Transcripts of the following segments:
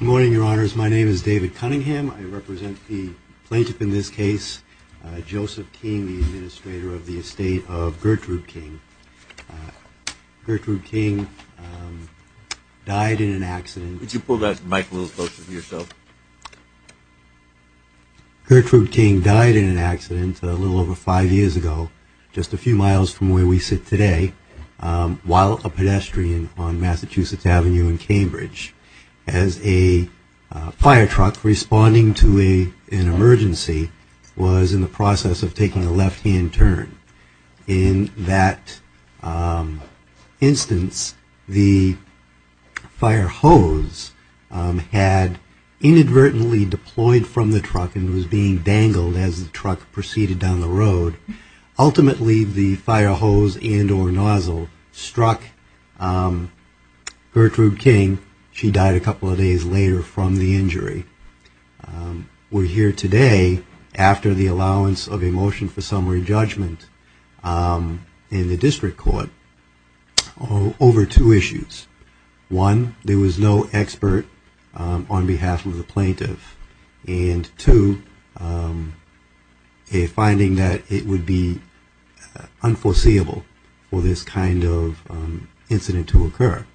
Good morning, Your Honors. My name is David Cunningham. I represent the plaintiff in this case, Joseph King, the administrator of the estate of Gertrude Gertrude King died in an accident a little over five years ago, just a few miles from where we sit today, while a pedestrian on Massachusetts Avenue in Cambridge. As a fire truck responding to an emergency was in the process of taking a left hand turn. In that instance, the fire hose had inadvertently deployed from the truck and was being dangled as the truck proceeded down the road. Ultimately, the fire hose and or nozzle struck Gertrude King. She died a couple of days later from the injury. We're here today after the allowance of a motion for summary judgment in the district court over two issues. One, there was no expert on behalf of the plaintiff. And two, a finding that it would be unforeseeable for this kind of incident to occur.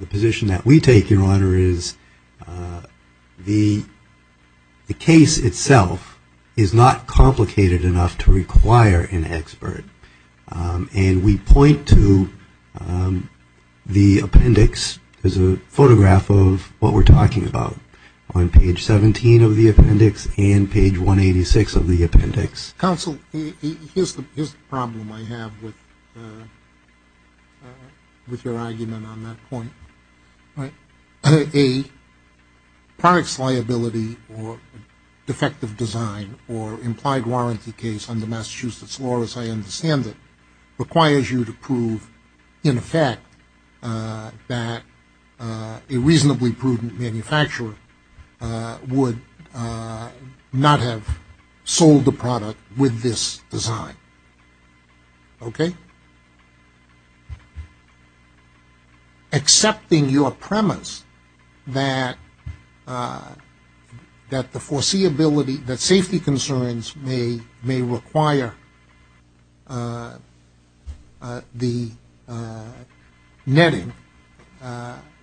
The position that we take, Your Honor, is the case itself is not complicated enough to require an expert. And we point to the appendix, there's a photograph of what we're talking about on page 17 of the appendix and page 186 of the appendix. Counsel, here's the problem I have with your argument on that point. A product's liability or defective design or implied warranty case under Massachusetts law, as I understand it, requires you to prove in effect that a reasonably prudent manufacturer would not have sold the product with this design. Okay? Accepting your premise that the foreseeability, that safety concerns may require the netting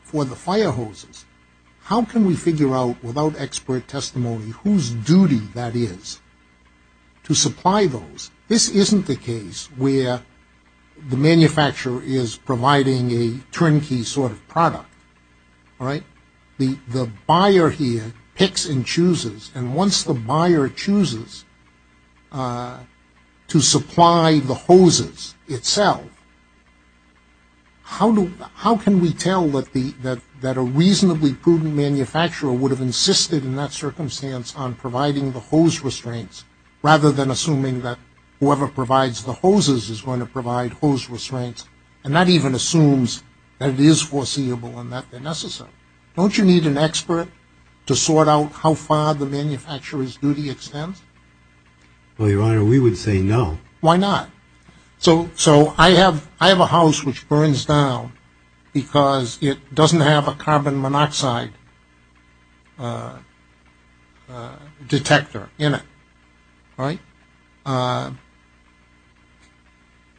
for the fire hoses, how can we figure out without expert testimony whose duty that is to supply those? This isn't the case where the manufacturer is providing a turnkey sort of product, all right? The buyer here picks and chooses, and once the buyer chooses to supply the hoses itself, how can we tell that a reasonably prudent manufacturer would have insisted in that circumstance on providing the hose restraints rather than assuming that whoever provides the hoses is going to provide hose restraints and not even assumes that it is foreseeable and that they're necessary? Don't you need an expert to sort out how far the manufacturer's duty extends? Well, Your Honor, we would say no. Why not? So I have a house which burns down because it doesn't have a carbon monoxide detector in it. Right?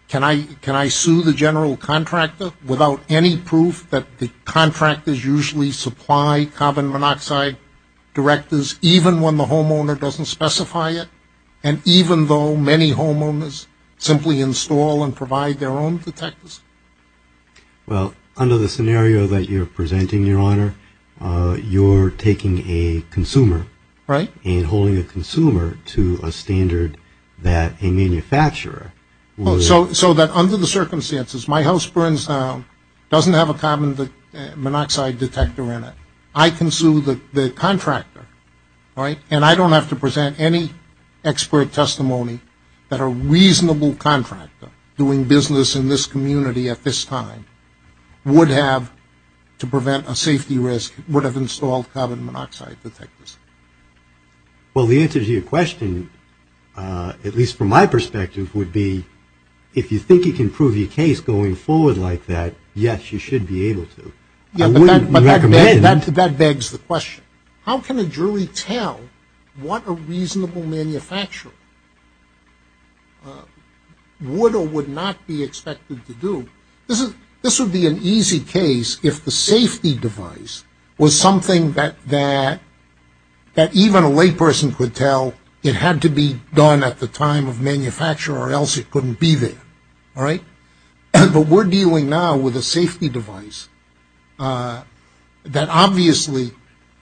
Can I sue the general contractor without any proof that the contractors usually supply carbon monoxide detectors even when the homeowner doesn't specify it and even though many homeowners simply install and provide their own detectors? Well, under the scenario that you're presenting, Your Honor, you're taking a consumer. Right. And holding a consumer to a standard that a manufacturer would. So that under the circumstances, my house burns down, doesn't have a carbon monoxide detector in it. I can sue the contractor, right? And I don't have to present any expert testimony that a reasonable contractor doing business in this community at this time would have to prevent a safety risk, would have installed carbon monoxide detectors. Well, the answer to your question, at least from my perspective, would be if you think you can prove your case going forward like that, yes, you should be able to. Yeah, but that begs the question. How can a jury tell what a reasonable manufacturer would or would not be expected to do? This would be an easy case if the safety device was something that even a layperson could tell it had to be done at the time of manufacture or else it couldn't be there, all right? But we're dealing now with a safety device that obviously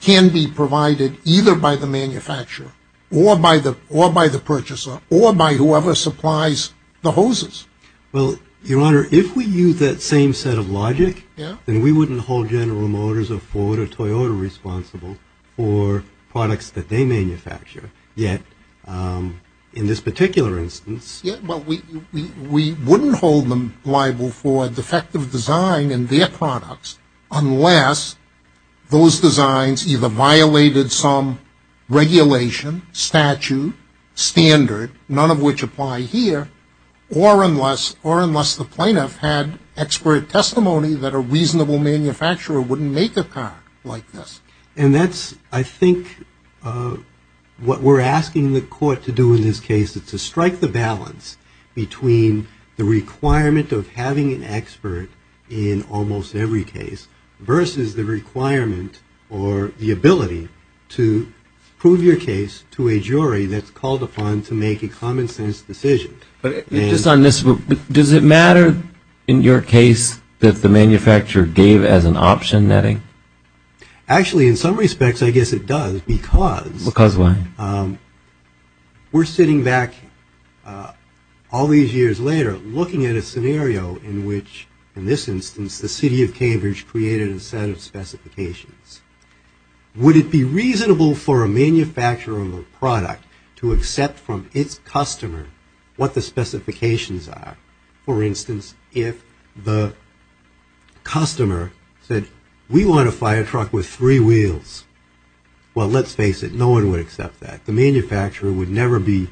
can be provided either by the manufacturer or by the purchaser or by whoever supplies the hoses. Well, Your Honor, if we use that same set of logic, then we wouldn't hold General Motors or Ford or Toyota responsible for products that they manufacture. Yet, in this particular instance... Yeah, but we wouldn't hold them liable for defective design in their products unless those designs either violated some regulation, statute, standard, none of which apply here, or unless the plaintiff had expert testimony that a reasonable manufacturer wouldn't make a car like this. And that's, I think, what we're asking the court to do in this case. It's to strike the balance between the requirement of having an expert in almost every case versus the requirement or the ability to prove your case to a jury that's called upon to make a common sense decision. Just on this, does it matter in your case that the manufacturer gave as an option netting? Actually, in some respects I guess it does because... Because what? We're sitting back all these years later looking at a scenario in which, in this instance, the city of Cambridge created a set of specifications. Would it be reasonable for a manufacturer of a product to accept from its customer what the specifications are? For instance, if the customer said, we want a fire truck with three wheels, well, let's face it, no one would accept that. The manufacturer would never be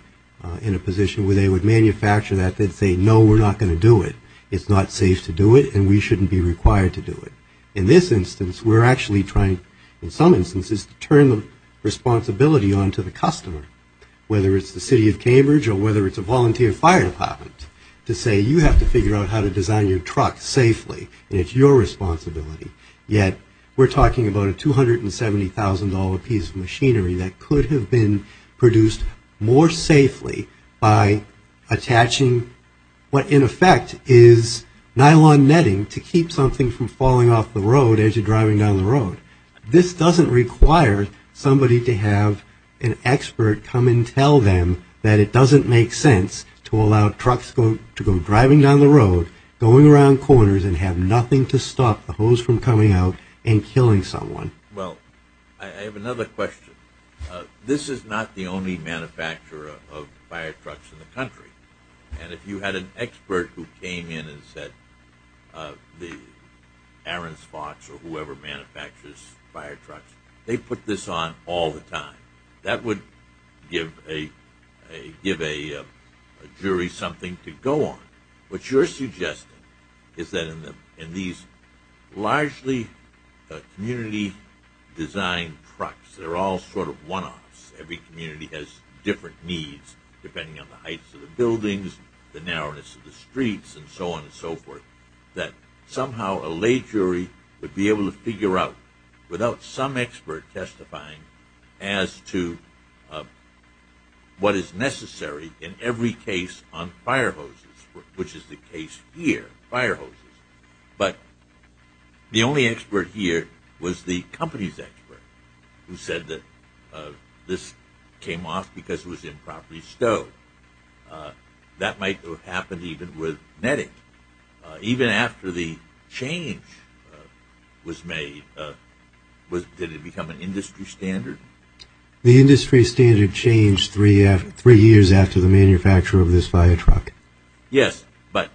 in a position where they would manufacture that, they'd say, no, we're not going to do it. It's not safe to do it, and we shouldn't be required to do it. In this instance, we're actually trying, in some instances, to turn the responsibility onto the customer, whether it's the city of Cambridge or whether it's a volunteer fire department, to say, you have to figure out how to design your truck safely, and it's your responsibility. Yet, we're talking about a $270,000 piece of machinery that could have been produced more safely by attaching what, in effect, is nylon netting to keep something from falling off the road as you're driving down the road. This doesn't require somebody to have an expert come and tell them that it doesn't make sense to allow trucks to go driving down the road, going around corners, and have nothing to stop the hose from coming out and killing someone. Well, I have another question. This is not the only manufacturer of fire trucks in the country, and if you had an expert who came in and said the Arons Fox or whoever manufactures fire trucks, they put this on all the time. That would give a jury something to go on. What you're suggesting is that in these largely community-designed trucks, they're all sort of one-offs. Every community has different needs depending on the heights of the buildings, the narrowness of the streets, and so on and so forth, that somehow a lay jury would be able to figure out without some expert testifying as to what is necessary in every case on fire hoses, which is the case here, fire hoses. But the only expert here was the company's expert who said that this came off because it was improperly stowed. That might have happened even with NETIC. Even after the change was made, did it become an industry standard? The industry standard changed three years after the manufacture of this fire truck. Yes, but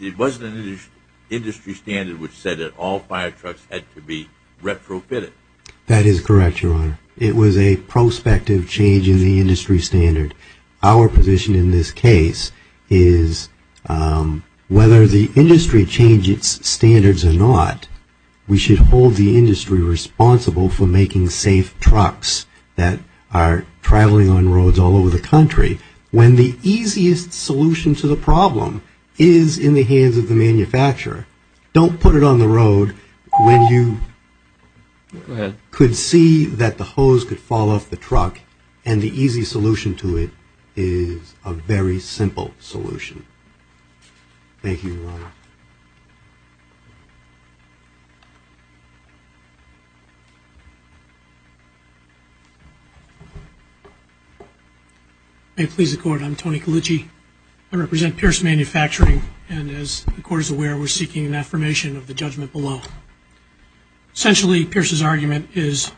it wasn't an industry standard which said that all fire trucks had to be retrofitted. That is correct, Your Honor. It was a prospective change in the industry standard. Our position in this case is whether the industry changes standards or not, we should hold the industry responsible for making safe trucks that are traveling on roads all over the country. When the easiest solution to the problem is in the hands of the manufacturer, don't put it on the road when you could see that the hose could fall off the truck and the easy solution to it is a very simple solution. Thank you, Your Honor. May it please the Court, I'm Tony Colicci. I represent Pierce Manufacturing, and as the Court is aware, we're seeking an affirmation of the judgment below. Essentially, Pierce's argument is,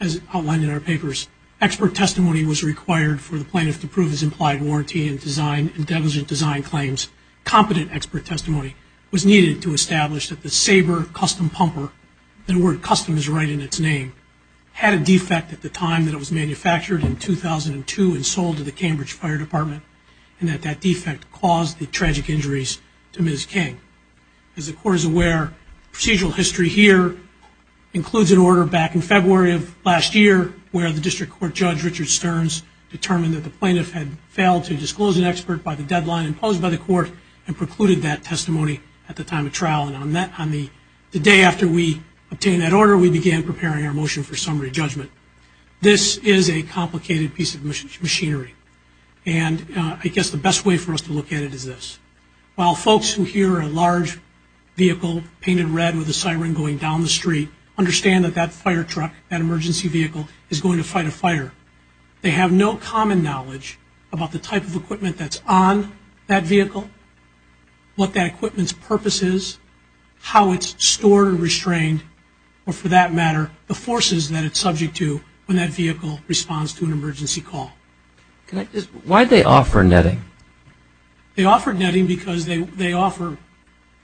as outlined in our papers, expert testimony was required for the plaintiff to prove his implied warranty and design and negligent design claims. Competent expert testimony was required. Competent expert testimony was needed to establish that the Sabre custom pumper, the word custom is right in its name, had a defect at the time that it was manufactured in 2002 and sold to the Cambridge Fire Department, and that that defect caused the tragic injuries to Ms. King. As the Court is aware, procedural history here includes an order back in February of last year where the District Court Judge Richard Stearns determined that the plaintiff had failed to disclose an expert by the deadline imposed by the Court and precluded that testimony at the time of trial, and on the day after we obtained that order, we began preparing our motion for summary judgment. This is a complicated piece of machinery, and I guess the best way for us to look at it is this. While folks who hear a large vehicle painted red with a siren going down the street understand that that fire truck, that emergency vehicle, is going to fight a fire, they have no common knowledge about the type of equipment that's on that vehicle, what that equipment's purpose is, how it's stored and restrained, or for that matter, the forces that it's subject to when that vehicle responds to an emergency call. Why did they offer netting? They offered netting because they offer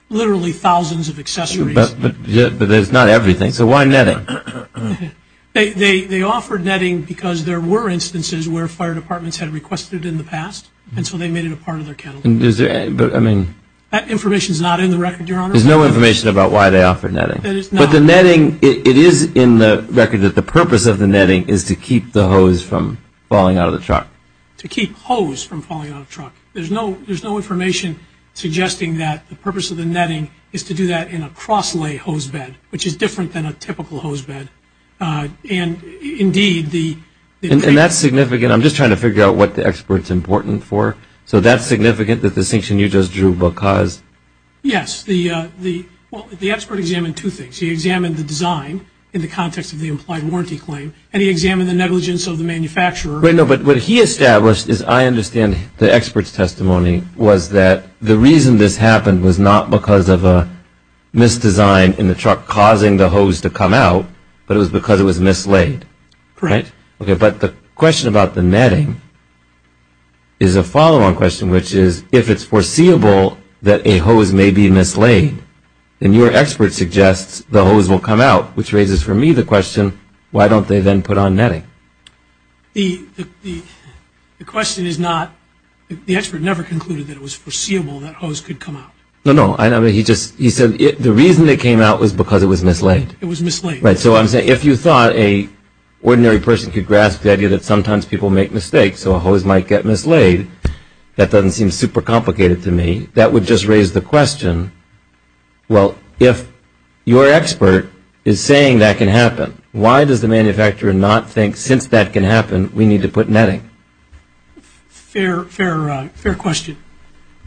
literally thousands of accessories. But there's not everything, so why netting? They offered netting because there were instances where fire departments had requested it in the past, and so they made it a part of their catalog. That information's not in the record, Your Honor. There's no information about why they offered netting. But the netting, it is in the record that the purpose of the netting is to keep the hose from falling out of the truck. To keep hose from falling out of the truck. There's no information suggesting that the purpose of the netting is to do that in a cross-lay hose bed, which is different than a typical hose bed. And indeed, the... And that's significant. I'm just trying to figure out what the expert's important for. So that's significant, the distinction you just drew, because... Yes, the expert examined two things. He examined the design in the context of the implied warranty claim, and he examined the negligence of the manufacturer... But what he established, as I understand the expert's testimony, but it was because it was mislaid. Correct. Okay, but the question about the netting is a follow-on question, which is, if it's foreseeable that a hose may be mislaid, then your expert suggests the hose will come out, which raises for me the question, why don't they then put on netting? The... The question is not... The expert never concluded that it was foreseeable that hose could come out. No, no, I know, but he just... The reason it came out was because it was mislaid. It was mislaid. Right, so I'm saying, if you thought an ordinary person could grasp the idea that sometimes people make mistakes, so a hose might get mislaid, that doesn't seem super complicated to me. That would just raise the question, well, if your expert is saying that can happen, why does the manufacturer not think, since that can happen, we need to put netting? Fair question.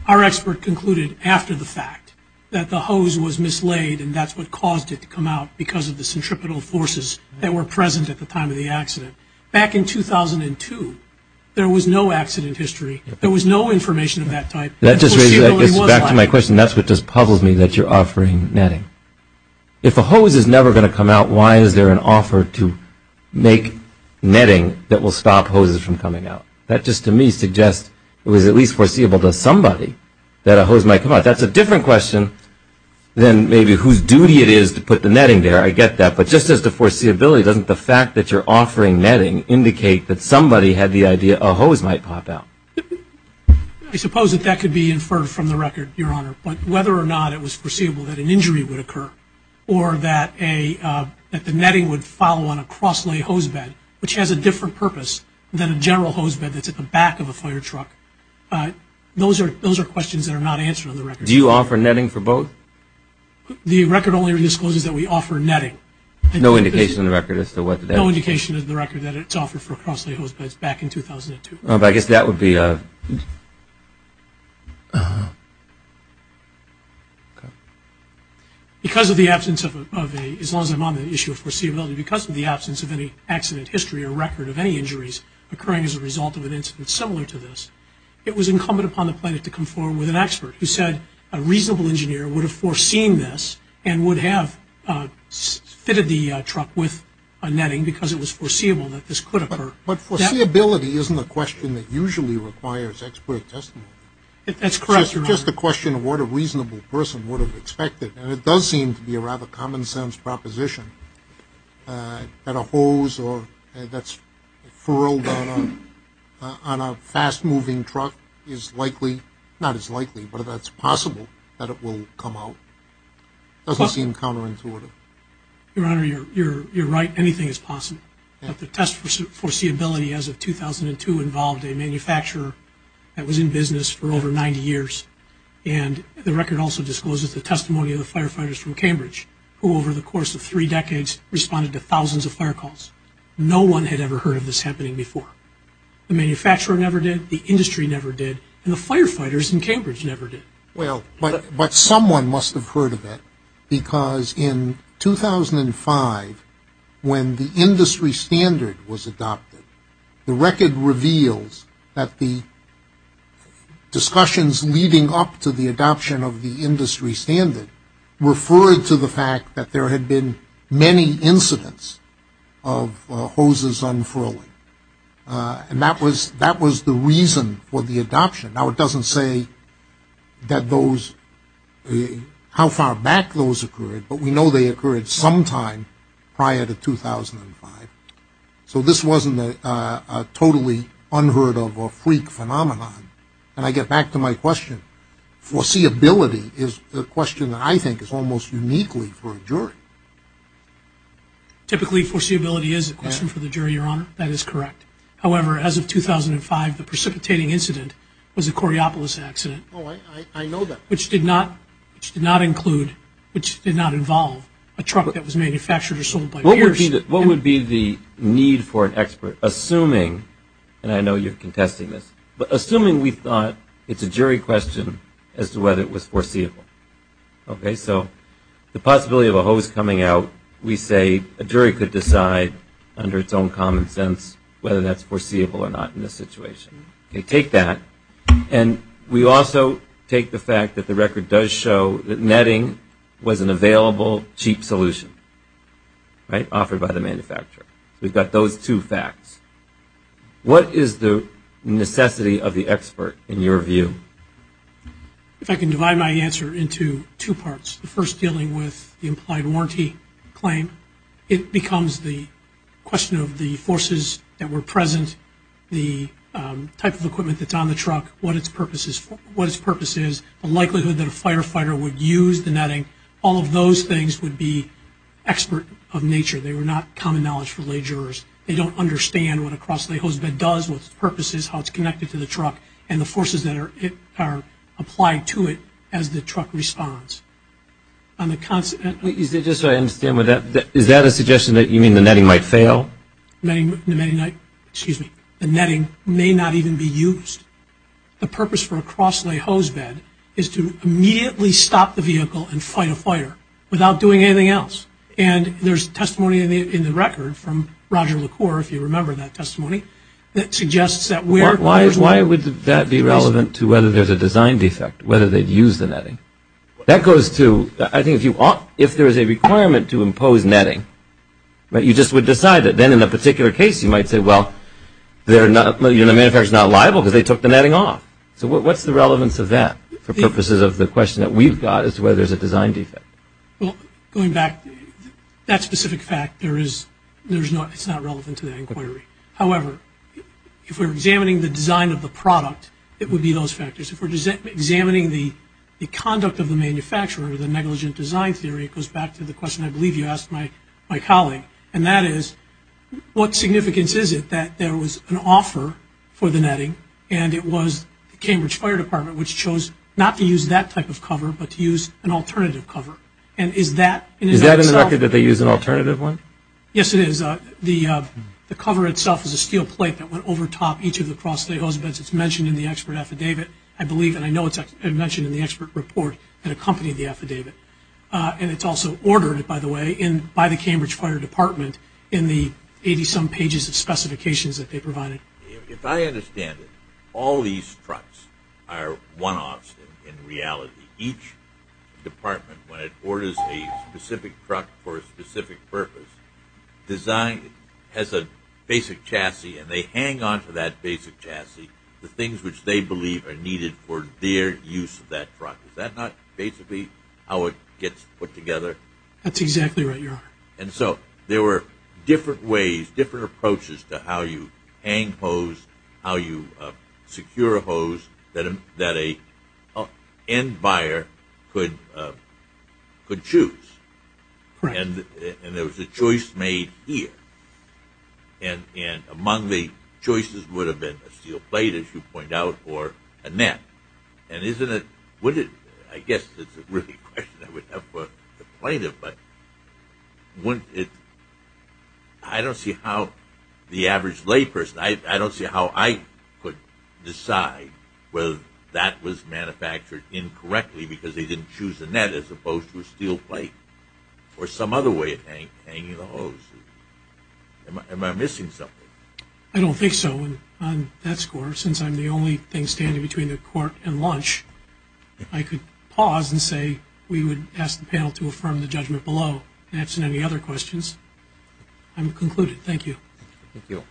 Our expert concluded after the fact that the hose was mislaid and that's what caused it to come out because of the centripetal forces that were present at the time of the accident. Back in 2002, there was no accident history. There was no information of that type. That just raises... It's back to my question. That's what just puzzles me, that you're offering netting. If a hose is never going to come out, why is there an offer to make netting that will stop hoses from coming out? That just to me suggests it was at least foreseeable to somebody that a hose might come out. That's a different question than maybe whose duty it is to put the netting there. I get that, but just as to foreseeability, doesn't the fact that you're offering netting indicate that somebody had the idea a hose might pop out? I suppose that that could be inferred from the record, Your Honor, but whether or not it was foreseeable that an injury would occur or that the netting would follow on a cross-lay hose bed, which has a different purpose than a general hose bed that's at the back of a fire truck, those are questions that are not answered on the record. Do you offer netting for both? The record only re-discloses that we offer netting. No indication on the record as to what the netting is? No indication on the record that it's offered for cross-lay hose beds back in 2002. I guess that would be... Because of the absence of a... as long as I'm on the issue of foreseeability, because of the absence of any accident history or record of any injuries occurring as a result of an incident similar to this, it was incumbent upon the plaintiff to conform with an expert who said a reasonable engineer would have foreseen this and would have fitted the truck with a netting because it was foreseeable that this could occur. But foreseeability isn't a question that usually requires expert testimony. That's correct, Your Honor. It's just a question of what a reasonable person would have expected, and it does seem to be a rather common-sense proposition. That a hose that's furrowed on a fast-moving truck is likely... not is likely, but that it's possible that it will come out. It doesn't seem counterintuitive. Your Honor, you're right. Anything is possible. But the test for foreseeability as of 2002 involved a manufacturer that was in business for over 90 years, and the record also discloses the testimony of the firefighters from Cambridge who, over the course of three decades, responded to thousands of fire calls. No one had ever heard of this happening before. The manufacturer never did, the industry never did, and the firefighters in Cambridge never did. Well, but someone must have heard of it because in 2005, when the industry standard was adopted, the record reveals that the discussions leading up to the adoption of the industry standard referred to the fact that there had been many incidents of hoses unfurling, and that was the reason for the adoption. Now, it doesn't say that those... how far back those occurred, but we know they occurred sometime prior to 2005. So this wasn't a totally unheard-of or freak phenomenon. And I get back to my question. Foreseeability is a question that I think is almost uniquely for a jury. Typically, foreseeability is a question for the jury, Your Honor. That is correct. However, as of 2005, the precipitating incident was the Coriopolis accident. Oh, I know that. Which did not include, which did not involve a truck that was manufactured or sold by... What would be the need for an expert, assuming, and I know you're contesting this, but assuming we thought it's a jury question as to whether it was foreseeable. Okay, so the possibility of a hose coming out, we say a jury could decide under its own common sense whether that's foreseeable or not in this situation. We take that, and we also take the fact that the record does show that netting was an available, cheap solution, right, offered by the manufacturer. We've got those two facts. What is the necessity of the expert in your view? If I can divide my answer into two parts, the first dealing with the implied warranty claim, it becomes the question of the forces that were present, the type of equipment that's on the truck, what its purpose is, the likelihood that a firefighter would use the netting. All of those things would be expert of nature. They were not common knowledge for lay jurors. They don't understand what a cross-lay hose bed does, what its purpose is, how it's connected to the truck, and the forces that are applied to it as the truck responds. On the consequence... Is that a suggestion that you mean the netting might fail? The netting may not even be used. The purpose for a cross-lay hose bed is to immediately stop the vehicle and fight a fire without doing anything else, and there's testimony in the record from Roger LaCour, if you remember that testimony, that suggests that where... Why would that be relevant to whether there's a design defect, whether they'd use the netting? That goes to... If there is a requirement to impose netting, you just would decide it. Then in a particular case, you might say, well, the manufacturer's not liable because they took the netting off. So what's the relevance of that for purposes of the question that we've got as to whether there's a design defect? Well, going back... That specific fact, there is... It's not relevant to that inquiry. However, if we're examining the design of the product, it would be those factors. If we're examining the conduct of the manufacturer, the negligent design theory, it goes back to the question I believe you asked my colleague, and that is, what significance is it that there was an offer for the netting, and it was the Cambridge Fire Department which chose not to use that type of cover but to use an alternative cover? And is that... Is that in the record that they use an alternative one? Yes, it is. The cover itself is a steel plate that went over top each of the cross-layer hose beds. It's mentioned in the expert affidavit, I believe, and I know it's mentioned in the expert report that accompanied the affidavit. And it's also ordered, by the way, by the Cambridge Fire Department in the 80-some pages of specifications that they provided. If I understand it, all these trucks are one-offs in reality. Each department, when it orders a specific truck for a specific purpose, has a basic chassis, and they hang onto that basic chassis the things which they believe are needed for their use of that truck. Is that not basically how it gets put together? That's exactly right, Your Honor. And so there were different ways, different approaches to how you hang hose, how you secure a hose that an end buyer could choose. And there was a choice made here. And among the choices would have been a steel plate, as you point out, or a net. And isn't it... I guess it's a really question I would have for the plaintiff, but wouldn't it... I don't see how the average layperson... I don't see how I could decide whether that was manufactured incorrectly because they didn't choose a net as opposed to a steel plate or some other way of hanging the hose. Am I missing something? I don't think so. On that score, since I'm the only thing standing between the court and lunch, I could pause and say we would ask the panel to affirm the judgment below. And if there's any other questions, I'm concluded. Thank you. Thank you.